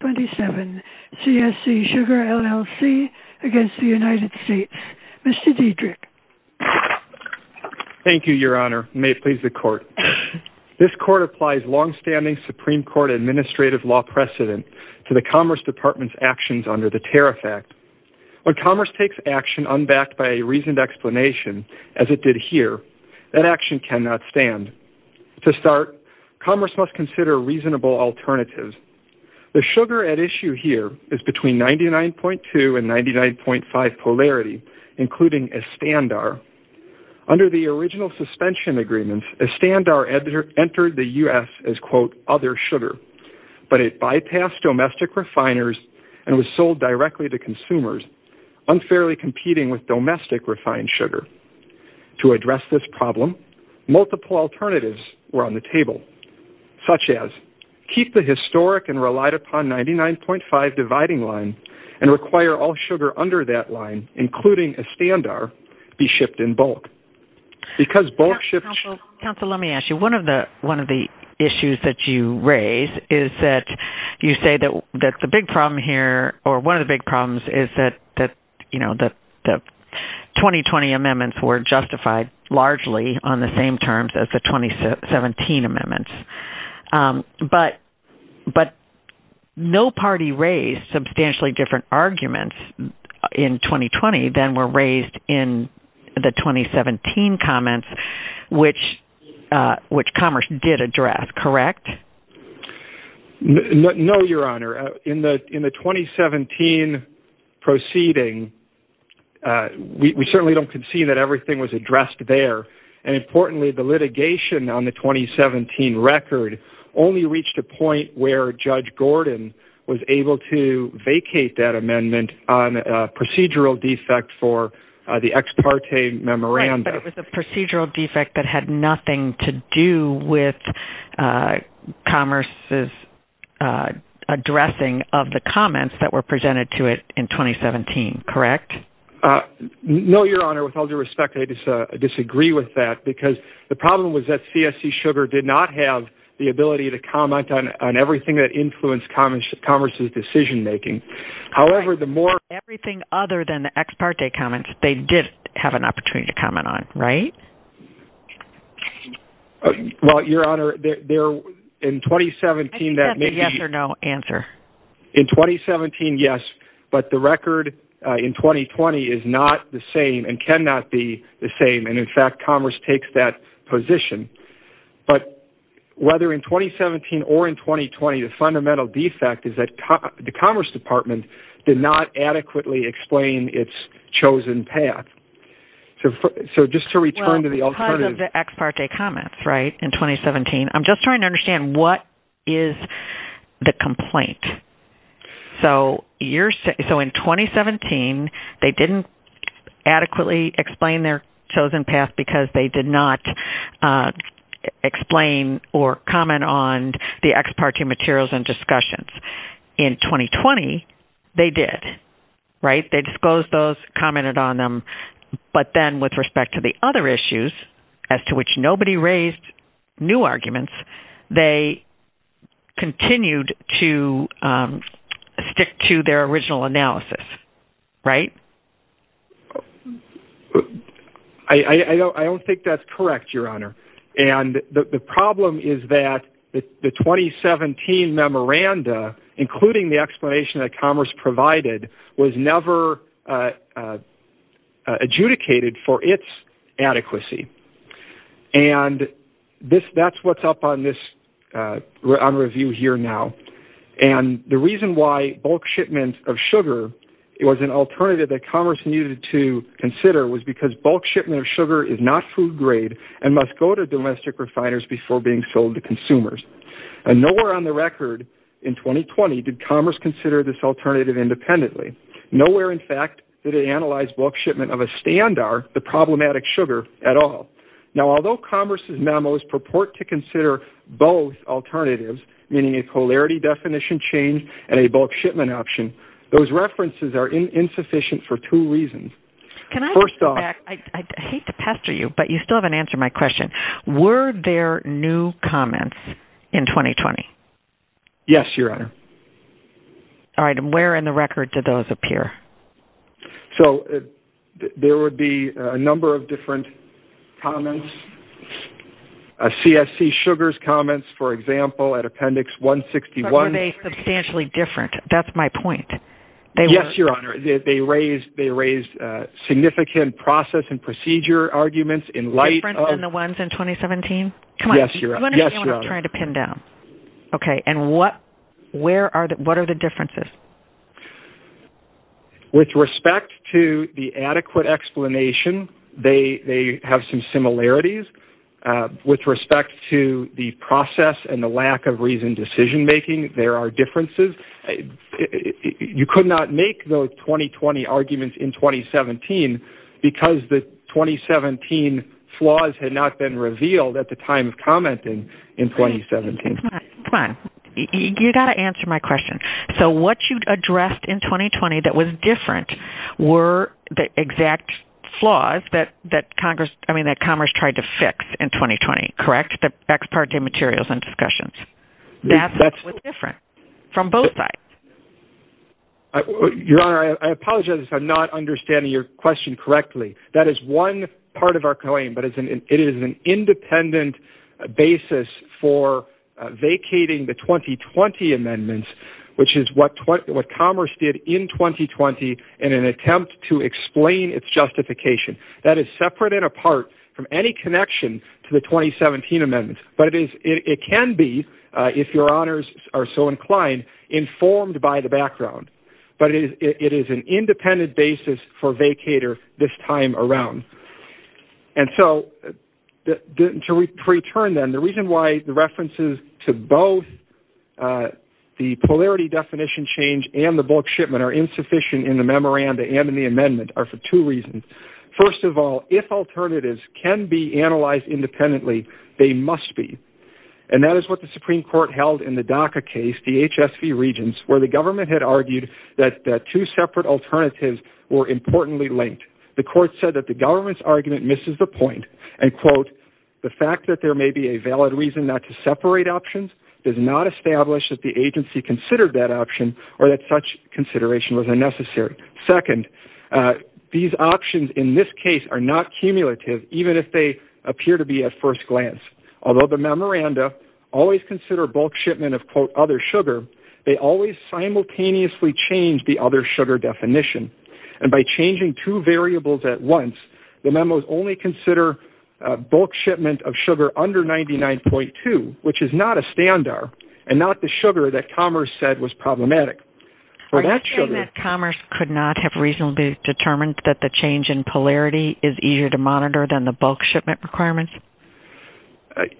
27 CSC Sugar LLC v. United States Mr. Diedrich Thank you, Your Honor. May it please the Court. This Court applies long-standing Supreme Court administrative law precedent to the Commerce Department's actions under the Tariff Act. When Commerce takes action unbacked by a reasoned explanation, as it did here, that action cannot stand. To start, Commerce must consider reasonable alternatives. The sugar at issue here is between 99.2 and 99.5 polarity, including Estandar. Under the original suspension agreements, Estandar entered the U.S. as, quote, other sugar, but it bypassed domestic refiners and was sold directly to consumers, unfairly competing with domestic refined sugar. To address this problem, multiple alternatives were on the table, such as keep the historic and relied-upon 99.5 dividing line and require all sugar under that line, including Estandar, be shipped in bulk. Counsel, let me ask you. One of the issues that you raise is that you say that the big problem here or one of the big problems is that, you know, the 2020 amendments were justified largely on the same terms as the 2017 amendments. But no party raised substantially different arguments in 2020 than were raised in the 2017 comments, which Commerce did address. Correct? No, Your Honor. In the 2017 proceeding, we certainly don't concede that everything was addressed there. And importantly, the litigation on the 2017 record only reached a point where Judge Gordon was able to vacate that amendment on a procedural defect for the ex parte memorandum. Right, but it was a procedural defect that had nothing to do with Commerce's addressing of the comments that were presented to it in 2017. Correct? No, Your Honor. With all due respect, I disagree with that because the problem was that CSC Sugar did not have the ability to comment on everything that influenced Commerce's decision-making. However, the more... Everything other than the ex parte comments, they did have an opportunity to comment on, right? Well, Your Honor, in 2017, that may be... I think that's a yes or no answer. In 2017, yes, but the record in 2020 is not the same and cannot be the same. And in fact, Commerce takes that position. But whether in 2017 or in 2020, the fundamental defect is that the Commerce Department did not adequately explain its chosen path. So just to return to the alternative... I'm just trying to understand what is the complaint. So in 2017, they didn't adequately explain their chosen path because they did not explain or comment on the ex parte materials and discussions. In 2020, they did, right? They disclosed those, commented on them, but then with respect to the other issues as to which nobody raised new arguments, they continued to stick to their original analysis, right? I don't think that's correct, Your Honor. And the problem is that the 2017 memoranda, including the explanation that Commerce provided, was never adjudicated for its adequacy. And that's what's up on review here now. And the reason why bulk shipment of sugar was an alternative that Commerce needed to consider was because bulk shipment of sugar is not food grade and must go to domestic refiners before being sold to consumers. And nowhere on the record in 2020 did Commerce consider this alternative independently. Nowhere, in fact, did it analyze bulk shipment of a standar, the problematic sugar, at all. Now, although Commerce's memos purport to consider both alternatives, meaning a polarity definition change and a bulk shipment option, those references are insufficient for two reasons. First off... I hate to pester you, but you still haven't answered my question. Were there new comments in 2020? Yes, Your Honor. All right, and where in the record did those appear? So, there would be a number of different comments. CSC Sugar's comments, for example, at Appendix 161... But were they substantially different? That's my point. Yes, Your Honor. They raised significant process and procedure arguments in light of... Different than the ones in 2017? Yes, Your Honor. Come on, do you understand what I'm trying to pin down? Okay, and what are the differences? With respect to the adequate explanation, they have some similarities. With respect to the process and the lack of reasoned decision-making, there are differences. You could not make those 2020 arguments in 2017 because the 2017 flaws had not been revealed at the time of commenting in 2017. Come on, you've got to answer my question. So, what you addressed in 2020 that was different were the exact flaws that Congress tried to fix in 2020, correct? The ex parte materials and discussions. That was different from both sides. Your Honor, I apologize if I'm not understanding your question correctly. That is one part of our claim, but it is an independent basis for vacating the 2020 amendments, which is what Congress did in 2020 in an attempt to explain its justification. That is separate and apart from any connection to the 2017 amendments. But it can be, if Your Honors are so inclined, informed by the background. But it is an independent basis for vacater this time around. And so, to return then, the reason why the references to both the polarity definition change and the bulk shipment are insufficient in the memoranda and in the amendment are for two reasons. First of all, if alternatives can be analyzed independently, they must be. And that is what the Supreme Court held in the DACA case, the HSV regions, where the government had argued that two separate alternatives were importantly linked. The court said that the government's argument misses the point and, quote, the fact that there may be a valid reason not to separate options does not establish that the agency considered that option or that such consideration was unnecessary. Second, these options in this case are not cumulative, even if they appear to be at first glance. Although the memoranda always consider bulk shipment of, quote, other sugar, they always simultaneously change the other sugar definition. And by changing two variables at once, the memos only consider bulk shipment of sugar under 99.2, which is not a standard and not the sugar that Commerce said was problematic. Are you saying that Commerce could not have reasonably determined that the change in polarity is easier to monitor than the bulk shipment requirements?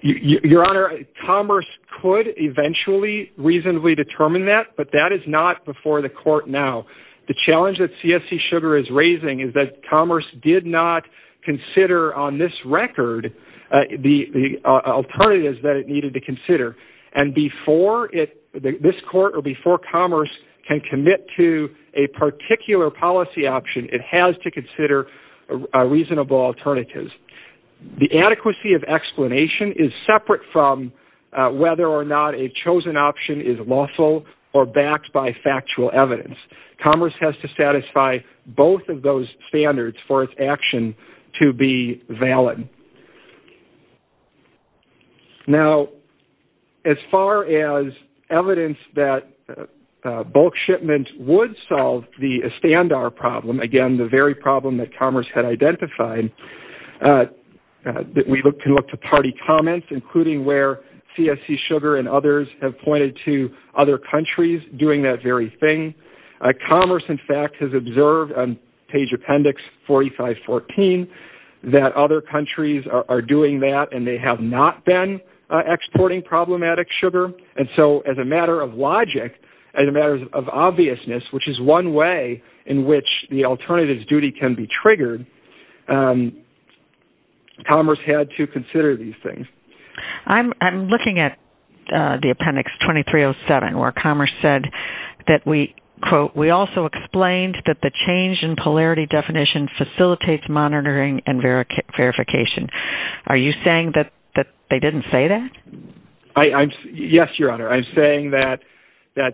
Your Honor, Commerce could eventually reasonably determine that, but that is not before the court now. The challenge that CSC Sugar is raising is that Commerce did not consider on this record the alternatives that it needed to consider. And before this court or before Commerce can commit to a particular policy option, it has to consider reasonable alternatives. The adequacy of explanation is separate from whether or not a chosen option is lawful or backed by factual evidence. Commerce has to satisfy both of those standards for its action to be valid. Now, as far as evidence that bulk shipment would solve the Estandar problem, again, the very problem that Commerce had identified, we can look to party comments, including where CSC Sugar and others have pointed to other countries doing that very thing. Commerce, in fact, has observed on page appendix 4514 that other countries are doing that and they have not been exporting problematic sugar. And so as a matter of logic, as a matter of obviousness, which is one way in which the alternatives duty can be triggered, Commerce had to consider these things. I'm looking at the appendix 2307 where Commerce said that we, quote, we also explained that the change in polarity definition facilitates monitoring and verification. Are you saying that they didn't say that? Yes, Your Honor. I'm saying that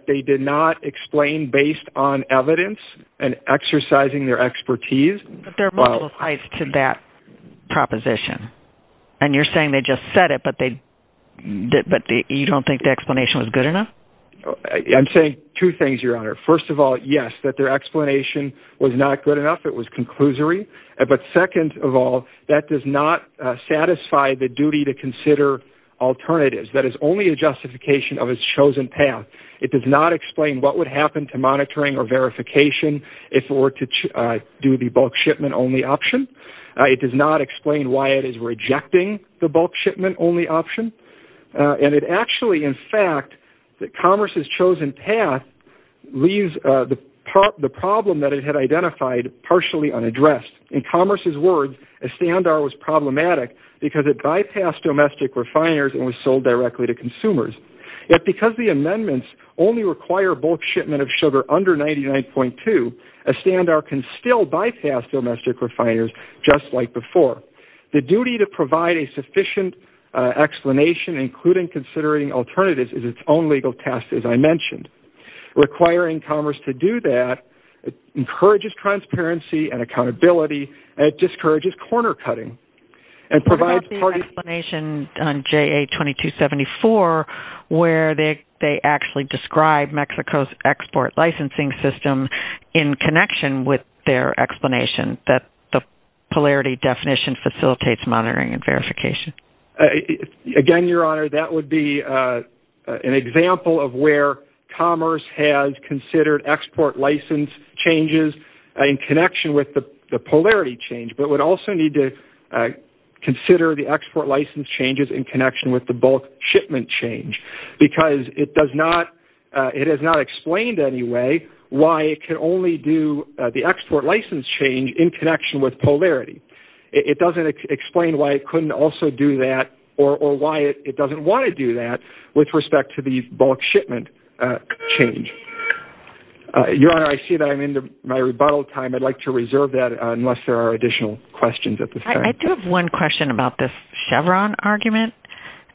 they did not explain based on evidence and exercising their expertise. But there are multiple sides to that proposition. And you're saying they just said it but you don't think the explanation was good enough? I'm saying two things, Your Honor. First of all, yes, that their explanation was not good enough. It was conclusory. But second of all, that does not satisfy the duty to consider alternatives. That is only a justification of its chosen path. It does not explain what would happen to monitoring or verification if it were to do the bulk shipment only option. It does not explain why it is rejecting the bulk shipment only option. And it actually, in fact, that Commerce's chosen path leaves the problem that it had identified partially unaddressed. In Commerce's words, a standar was problematic because it bypassed domestic refiners and was sold directly to consumers. Yet because the amendments only require bulk shipment of sugar under 99.2, a standar can still bypass domestic refiners just like before. The duty to provide a sufficient explanation, including considering alternatives, is its own legal task, as I mentioned. Requiring Commerce to do that encourages transparency and accountability and discourages corner cutting. What about the explanation on JA-2274 where they actually describe Mexico's export licensing system in connection with their explanation that the polarity definition facilitates monitoring and verification? Again, Your Honor, that would be an example of where Commerce has considered export license changes in connection with the polarity change. But would also need to consider the export license changes in connection with the bulk shipment change. Because it has not explained anyway why it can only do the export license change in connection with polarity. It doesn't explain why it couldn't also do that or why it doesn't want to do that with respect to the bulk shipment change. Your Honor, I see that I'm into my rebuttal time. I'd like to reserve that unless there are additional questions at this time. I do have one question about this Chevron argument.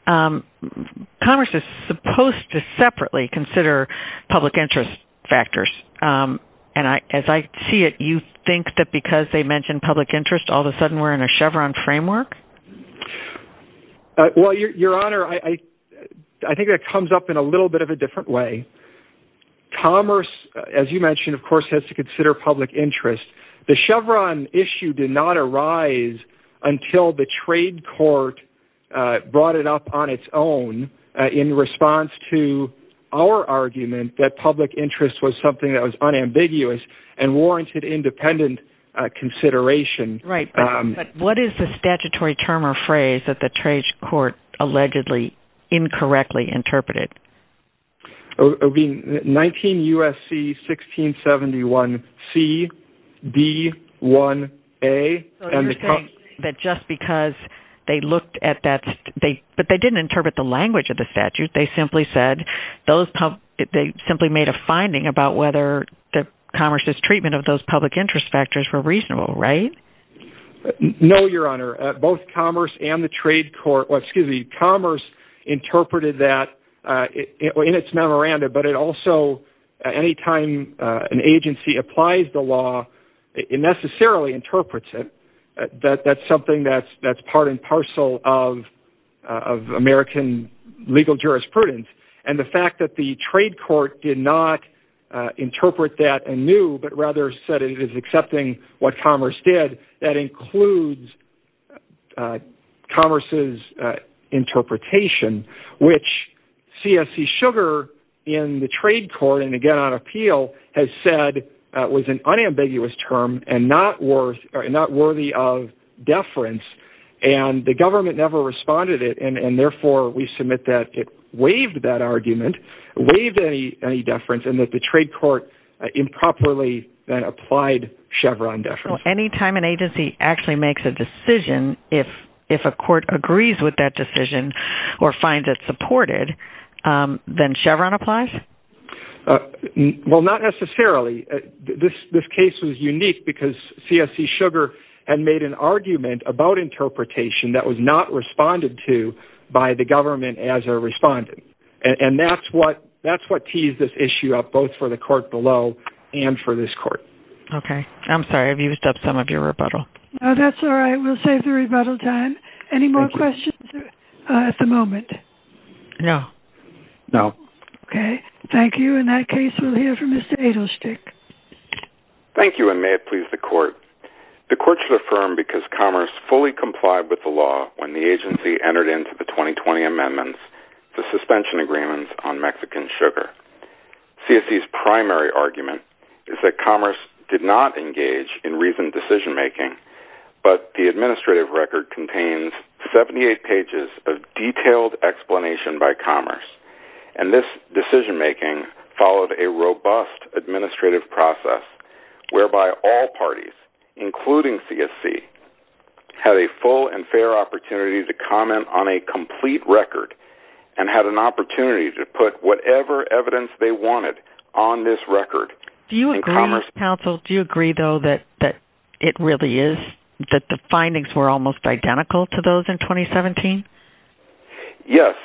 Commerce is supposed to separately consider public interest factors. And as I see it, you think that because they mentioned public interest, all of a sudden we're in a Chevron framework? Well, Your Honor, I think that comes up in a little bit of a different way. Commerce, as you mentioned, of course, has to consider public interest. The Chevron issue did not arise until the trade court brought it up on its own in response to our argument that public interest was something that was unambiguous and warranted independent consideration. Right, but what is the statutory term or phrase that the trade court allegedly incorrectly interpreted? It would be 19 U.S.C. 1671 C.B.1.A. So you're saying that just because they looked at that, but they didn't interpret the language of the statute. They simply made a finding about whether Commerce's treatment of those public interest factors were reasonable, right? No, Your Honor. Both Commerce and the trade court, excuse me, Commerce interpreted that in its memorandum. But it also, anytime an agency applies the law, it necessarily interprets it. That's something that's part and parcel of American legal jurisprudence. And the fact that the trade court did not interpret that anew, but rather said it is accepting what Commerce did, that includes Commerce's interpretation, which C.S.C. Sugar in the trade court, and again on appeal, has said was an unambiguous term and not worthy of deference. And the government never responded, and therefore we submit that it waived that argument, waived any deference, and that the trade court improperly applied Chevron deference. So anytime an agency actually makes a decision, if a court agrees with that decision or finds it supported, then Chevron applies? Well, not necessarily. This case was unique because C.S.C. Sugar had made an argument about interpretation that was not responded to by the government as a respondent. And that's what tees this issue up, both for the court below and for this court. Okay. I'm sorry. I've used up some of your rebuttal. No, that's all right. We'll save the rebuttal time. Any more questions at the moment? No. No. Okay. Thank you. In that case, we'll hear from Mr. Edelstick. Thank you, and may it please the court. The court should affirm because Commerce fully complied with the law when the agency entered into the 2020 amendments to suspension agreements on Mexican Sugar. C.S.C.'s primary argument is that Commerce did not engage in reasoned decision-making, but the administrative record contains 78 pages of detailed explanation by Commerce. And this decision-making followed a robust administrative process whereby all parties, including C.S.C., had a full and fair opportunity to comment on a complete record and had an opportunity to put whatever evidence they wanted on this record. Do you agree, counsel, do you agree, though, that it really is, that the findings were almost identical to those in 2017? Yes,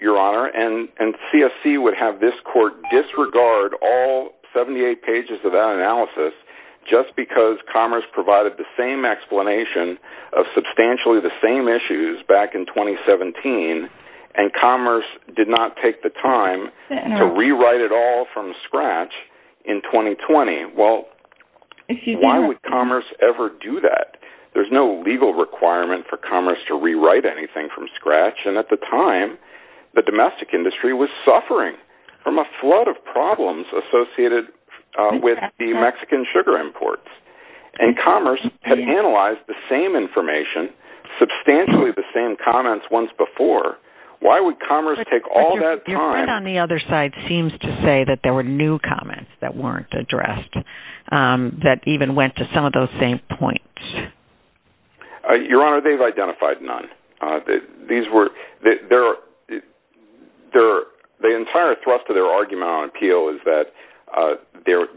Your Honor, and C.S.C. would have this court disregard all 78 pages of that analysis just because Commerce provided the same explanation of substantially the same issues back in 2017, and Commerce did not take the time to rewrite it all from scratch in 2020. Well, why would Commerce ever do that? There's no legal requirement for Commerce to rewrite anything from scratch, and at the time, the domestic industry was suffering from a flood of problems associated with the Mexican Sugar imports. And Commerce had analyzed the same information, substantially the same comments once before. Why would Commerce take all that time? The argument on the other side seems to say that there were new comments that weren't addressed that even went to some of those same points. Your Honor, they've identified none. The entire thrust of their argument on appeal is that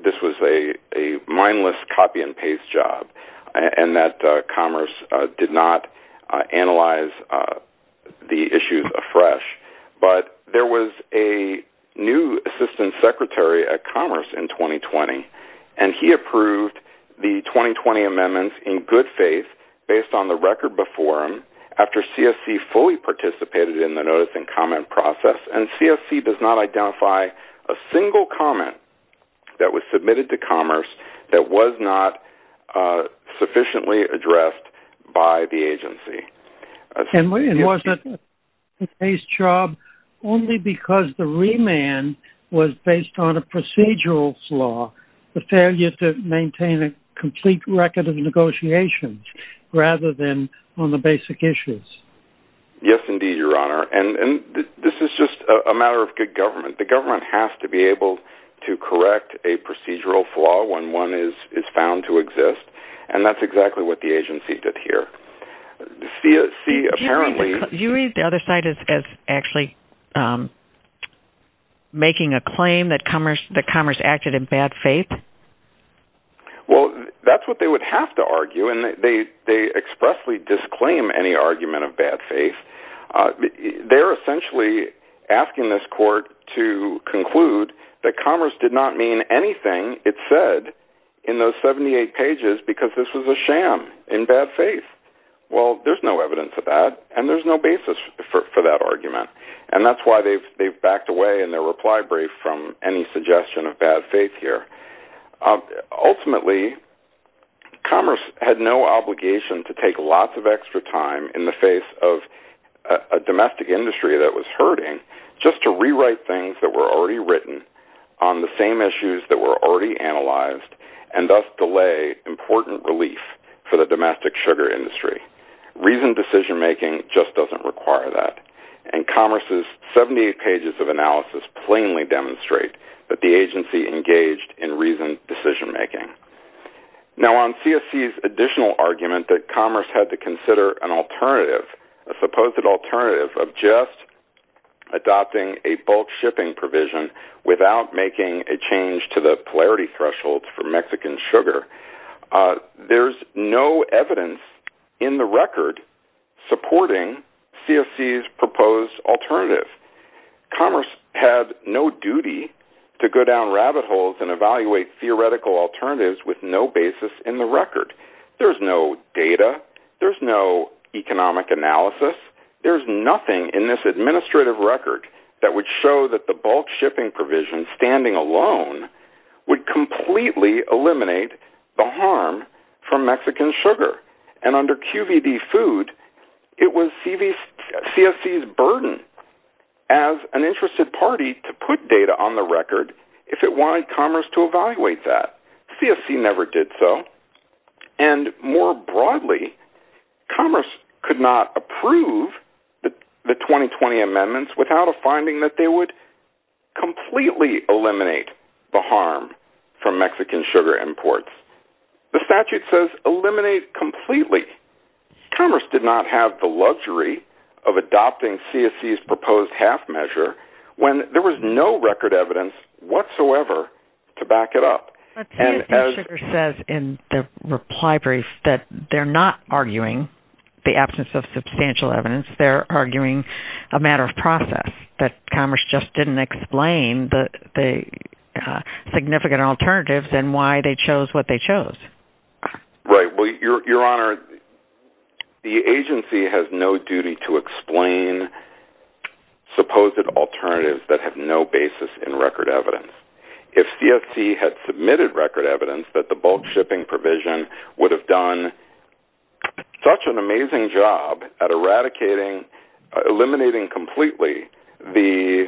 this was a mindless, copy-and-paste job, and that Commerce did not analyze the issues afresh. But there was a new assistant secretary at Commerce in 2020, and he approved the 2020 amendments in good faith, based on the record before him, after C.S.C. fully participated in the notice and comment process. And C.S.C. does not identify a single comment that was submitted to Commerce that was not sufficiently addressed by the agency. And was it a copy-and-paste job only because the remand was based on a procedural flaw, the failure to maintain a complete record of negotiations, rather than on the basic issues? Yes, indeed, Your Honor, and this is just a matter of good government. The government has to be able to correct a procedural flaw when one is found to exist, and that's exactly what the agency did here. Do you read the other side as actually making a claim that Commerce acted in bad faith? Well, that's what they would have to argue, and they expressly disclaim any argument of bad faith. They're essentially asking this court to conclude that Commerce did not mean anything it said in those 78 pages because this was a sham in bad faith. Well, there's no evidence of that, and there's no basis for that argument, and that's why they've backed away in their reply brief from any suggestion of bad faith here. Ultimately, Commerce had no obligation to take lots of extra time in the face of a domestic industry that was hurting just to rewrite things that were already written on the same issues that were already analyzed, and thus delay important relief for the domestic sugar industry. Reasoned decision-making just doesn't require that. Commerce's 78 pages of analysis plainly demonstrate that the agency engaged in reasoned decision-making. Now, on CSC's additional argument that Commerce had to consider an alternative, a supposed alternative of just adopting a bulk shipping provision without making a change to the polarity threshold for Mexican sugar, there's no evidence in the record supporting CSC's proposed alternative. Commerce had no duty to go down rabbit holes and evaluate theoretical alternatives with no basis in the record. There's no data. There's no economic analysis. There's nothing in this administrative record that would show that the bulk shipping provision standing alone would completely eliminate the harm from Mexican sugar. And under QVD Food, it was CSC's burden as an interested party to put data on the record if it wanted Commerce to evaluate that. CSC never did so. And more broadly, Commerce could not approve the 2020 amendments without a finding that they would completely eliminate the harm from Mexican sugar imports. The statute says eliminate completely. Commerce did not have the luxury of adopting CSC's proposed half measure when there was no record evidence whatsoever to back it up. But CSC says in the reply brief that they're not arguing the absence of substantial evidence. They're arguing a matter of process that Commerce just didn't explain the significant alternatives and why they chose what they chose. Right. Well, Your Honor, the agency has no duty to explain supposed alternatives that have no basis in record evidence. If CSC had submitted record evidence that the bulk shipping provision would have done such an amazing job at eradicating, eliminating completely, the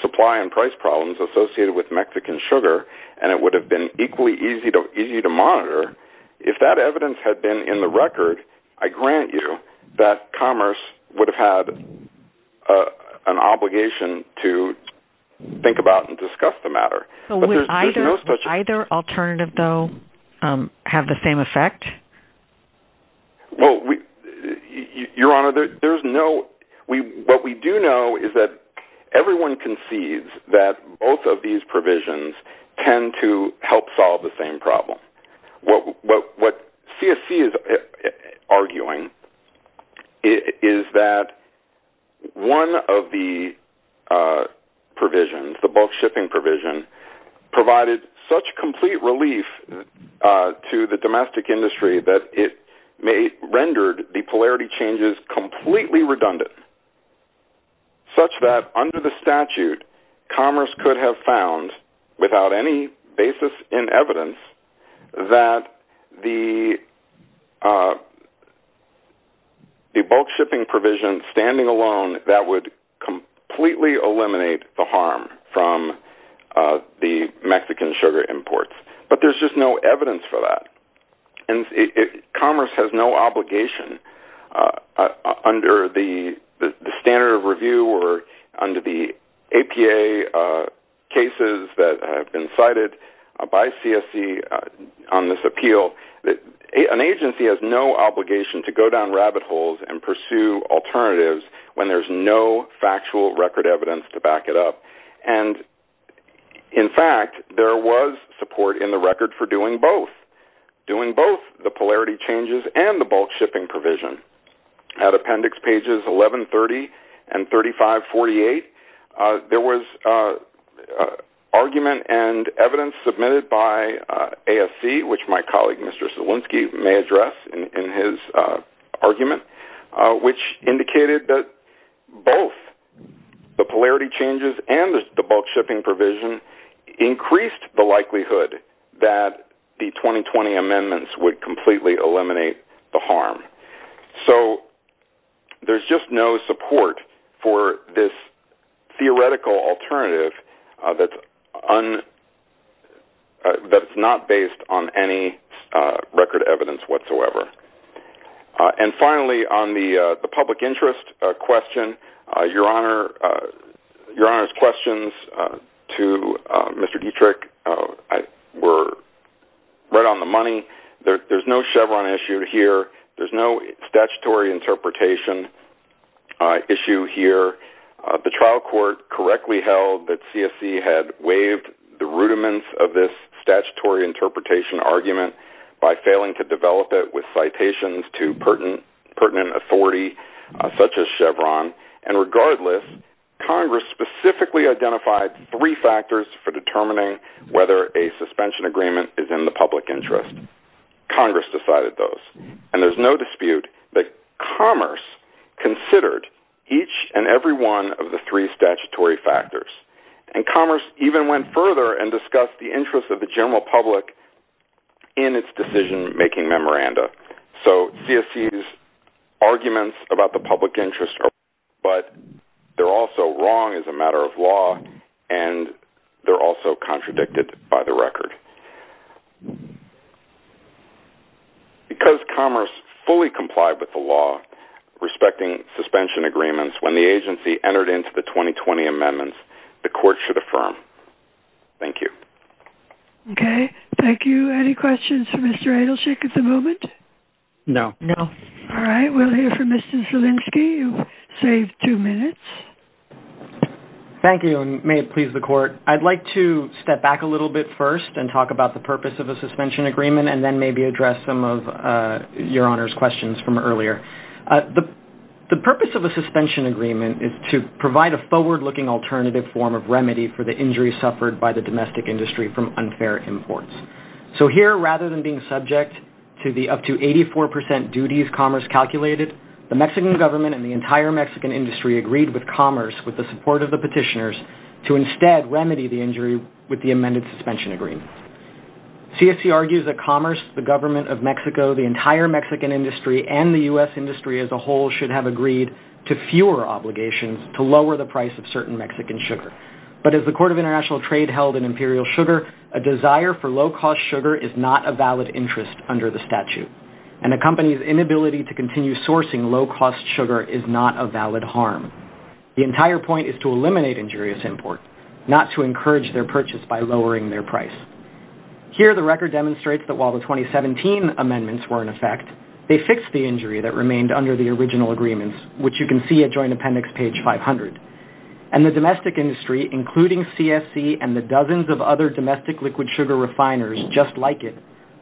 supply and price problems associated with Mexican sugar, and it would have been equally easy to monitor, if that evidence had been in the record, I grant you that Commerce would have had an obligation to think about and discuss the matter. Would either alternative, though, have the same effect? Well, Your Honor, what we do know is that everyone concedes that both of these provisions tend to help solve the same problem. What CSC is arguing is that one of the provisions, the bulk shipping provision, provided such complete relief to the domestic industry that it rendered the polarity changes completely redundant, such that under the statute, Commerce could have found, without any basis in evidence, that the bulk shipping provision standing alone, that would completely eliminate the harm from the Mexican sugar imports. But there's just no evidence for that. Commerce has no obligation under the standard of review or under the APA cases that have been cited by CSC on this appeal. An agency has no obligation to go down rabbit holes and pursue alternatives when there's no factual record evidence to back it up. In fact, there was support in the record for doing both, doing both the polarity changes and the bulk shipping provision. At appendix pages 1130 and 3548, there was argument and evidence submitted by ASC, which my colleague Mr. Zielinski may address in his argument, which indicated that both the polarity changes and the bulk shipping provision increased the likelihood that the 2020 amendments would completely eliminate the harm. So there's just no support for this theoretical alternative that's not based on any record evidence whatsoever. And finally, on the public interest question, Your Honor's questions to Mr. Dietrich were right on the money. There's no Chevron issue here. There's no statutory interpretation issue here. The trial court correctly held that CSC had waived the rudiments of this statutory interpretation argument by failing to develop it with citations to pertinent authority such as Chevron. And regardless, Congress specifically identified three factors for determining whether a suspension agreement is in the public interest. Congress decided those, and there's no dispute that Commerce considered each and every one of the three statutory factors. And Commerce even went further and discussed the interest of the general public in its decision-making memoranda. So CSC's arguments about the public interest are right, but they're also wrong as a matter of law, and they're also contradicted by the record. Because Commerce fully complied with the law respecting suspension agreements when the agency entered into the 2020 amendments, the court should affirm. Thank you. Okay. Thank you. Any questions for Mr. Edelshick at the moment? No. No. All right. We'll hear from Mr. Zielinski. You've saved two minutes. Thank you, and may it please the court. I'd like to step back a little bit first and talk about the purpose of a suspension agreement and then maybe address some of Your Honor's questions from earlier. The purpose of a suspension agreement is to provide a forward-looking alternative form of remedy for the injuries suffered by the domestic industry from unfair imports. So here, rather than being subject to the up to 84 percent duties Commerce calculated, the Mexican government and the entire Mexican industry agreed with Commerce, with the support of the petitioners, to instead remedy the injury with the amended suspension agreement. CSC argues that Commerce, the government of Mexico, the entire Mexican industry, and the U.S. industry as a whole should have agreed to fewer obligations to lower the price of certain Mexican sugar. But as the Court of International Trade held in Imperial Sugar, a desire for low-cost sugar is not a valid interest under the statute. And a company's inability to continue sourcing low-cost sugar is not a valid harm. The entire point is to eliminate injurious import, not to encourage their purchase by lowering their price. Here, the record demonstrates that while the 2017 amendments were in effect, they fixed the injury that remained under the original agreements, which you can see at Joint Appendix page 500. And the domestic industry, including CSC and the dozens of other domestic liquid sugar refiners just like it,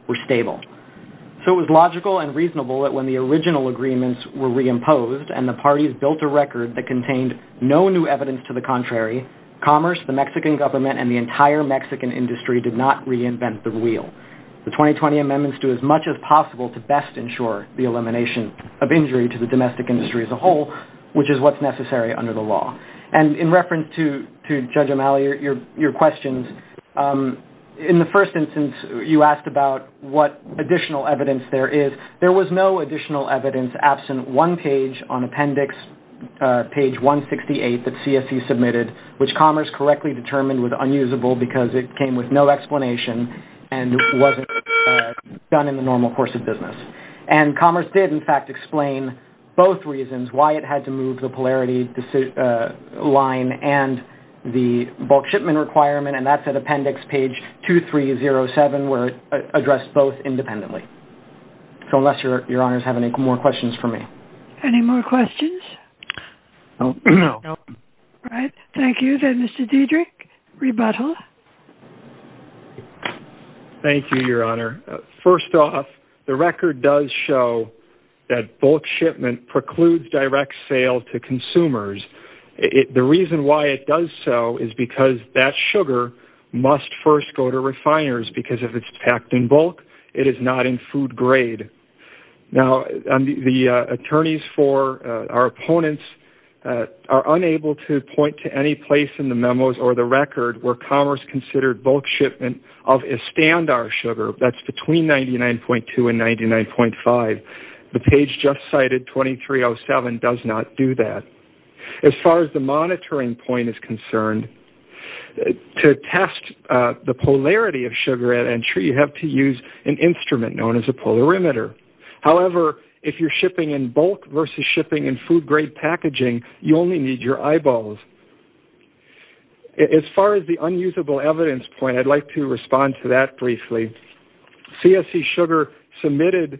were stable. So it was logical and reasonable that when the original agreements were reimposed and the parties built a record that contained no new evidence to the contrary, Commerce, the Mexican government, and the entire Mexican industry did not reinvent the wheel. The 2020 amendments do as much as possible to best ensure the elimination of injury to the domestic industry as a whole, which is what's necessary under the law. And in reference to Judge O'Malley, your questions, in the first instance, you asked about what additional evidence there is. There was no additional evidence absent one page on Appendix page 168 that CSC submitted, which Commerce correctly determined was unusable because it came with no explanation and wasn't done in the normal course of business. And Commerce did, in fact, explain both reasons why it had to move the polarity line and the bulk shipment requirement, and that's at Appendix page 2307 where it addressed both independently. So unless your honors have any more questions for me. Any more questions? No. All right. Thank you. Then, Mr. Diedrich, rebuttal. Thank you, Your Honor. First off, the record does show that bulk shipment precludes direct sale to consumers. The reason why it does so is because that sugar must first go to refiners because if it's packed in bulk, it is not in food grade. Now, the attorneys for our opponents are unable to point to any place in the memos or the record where Commerce considered bulk shipment of Estandar sugar. That's between 99.2 and 99.5. The page just cited, 2307, does not do that. As far as the monitoring point is concerned, to test the polarity of sugar at entry, you have to use an instrument known as a polarimeter. However, if you're shipping in bulk versus shipping in food grade packaging, you only need your eyeballs. As far as the unusable evidence point, I'd like to respond to that briefly. CSE sugar submitted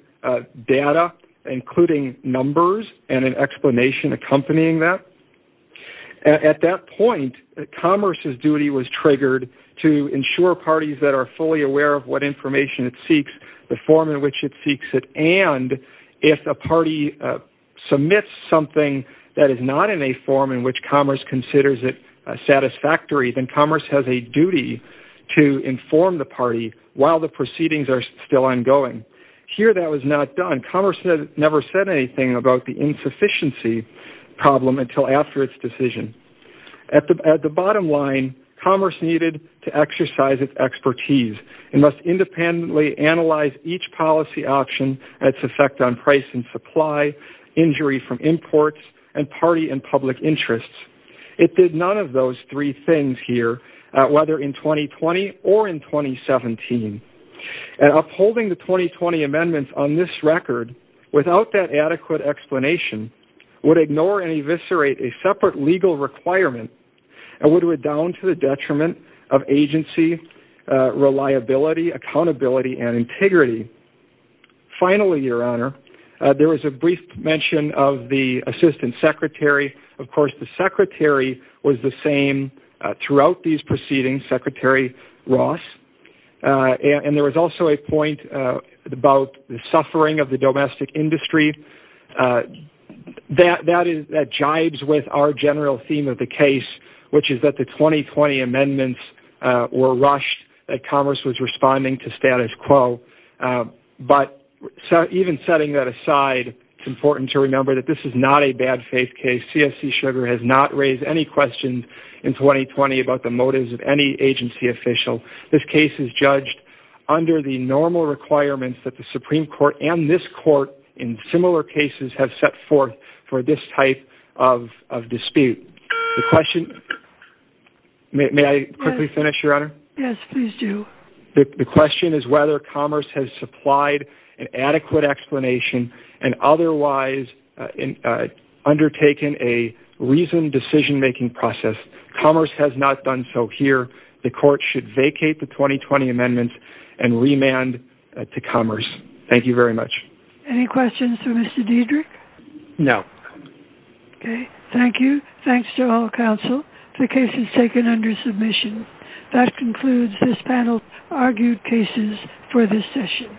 data, including numbers and an explanation accompanying that. At that point, Commerce's duty was triggered to ensure parties that are fully aware of what information it seeks, the form in which it seeks it, and if a party submits something that is not in a form in which Commerce considers it satisfactory, then Commerce has a duty to inform the party while the proceedings are still ongoing. Here, that was not done. Commerce never said anything about the insufficiency problem until after its decision. At the bottom line, Commerce needed to exercise its expertise. It must independently analyze each policy option, its effect on price and supply, injury from imports, and party and public interests. It did none of those three things here, whether in 2020 or in 2017. Upholding the 2020 amendments on this record without that adequate explanation would ignore and eviscerate a separate legal requirement and would redound to the detriment of agency, reliability, accountability, and integrity. Finally, your honor, there was a brief mention of the assistant secretary. Of course, the secretary was the same throughout these proceedings, Secretary Ross. And there was also a point about the suffering of the domestic industry that jibes with our general theme of the case, which is that the 2020 amendments were rushed, that Commerce was responding to status quo. But even setting that aside, it's important to remember that this is not a bad faith case. CSC Sugar has not raised any questions in 2020 about the motives of any agency official. This case is judged under the normal requirements that the Supreme Court and this court in similar cases have set forth for this type of dispute. The question—may I quickly finish, your honor? Yes, please do. The question is whether Commerce has supplied an adequate explanation and otherwise undertaken a reasoned decision-making process. Commerce has not done so here. The court should vacate the 2020 amendments and remand to Commerce. Thank you very much. Any questions for Mr. Diedrich? No. Okay, thank you. Thanks to all counsel. The case is taken under submission. That concludes this panel's argued cases for this session.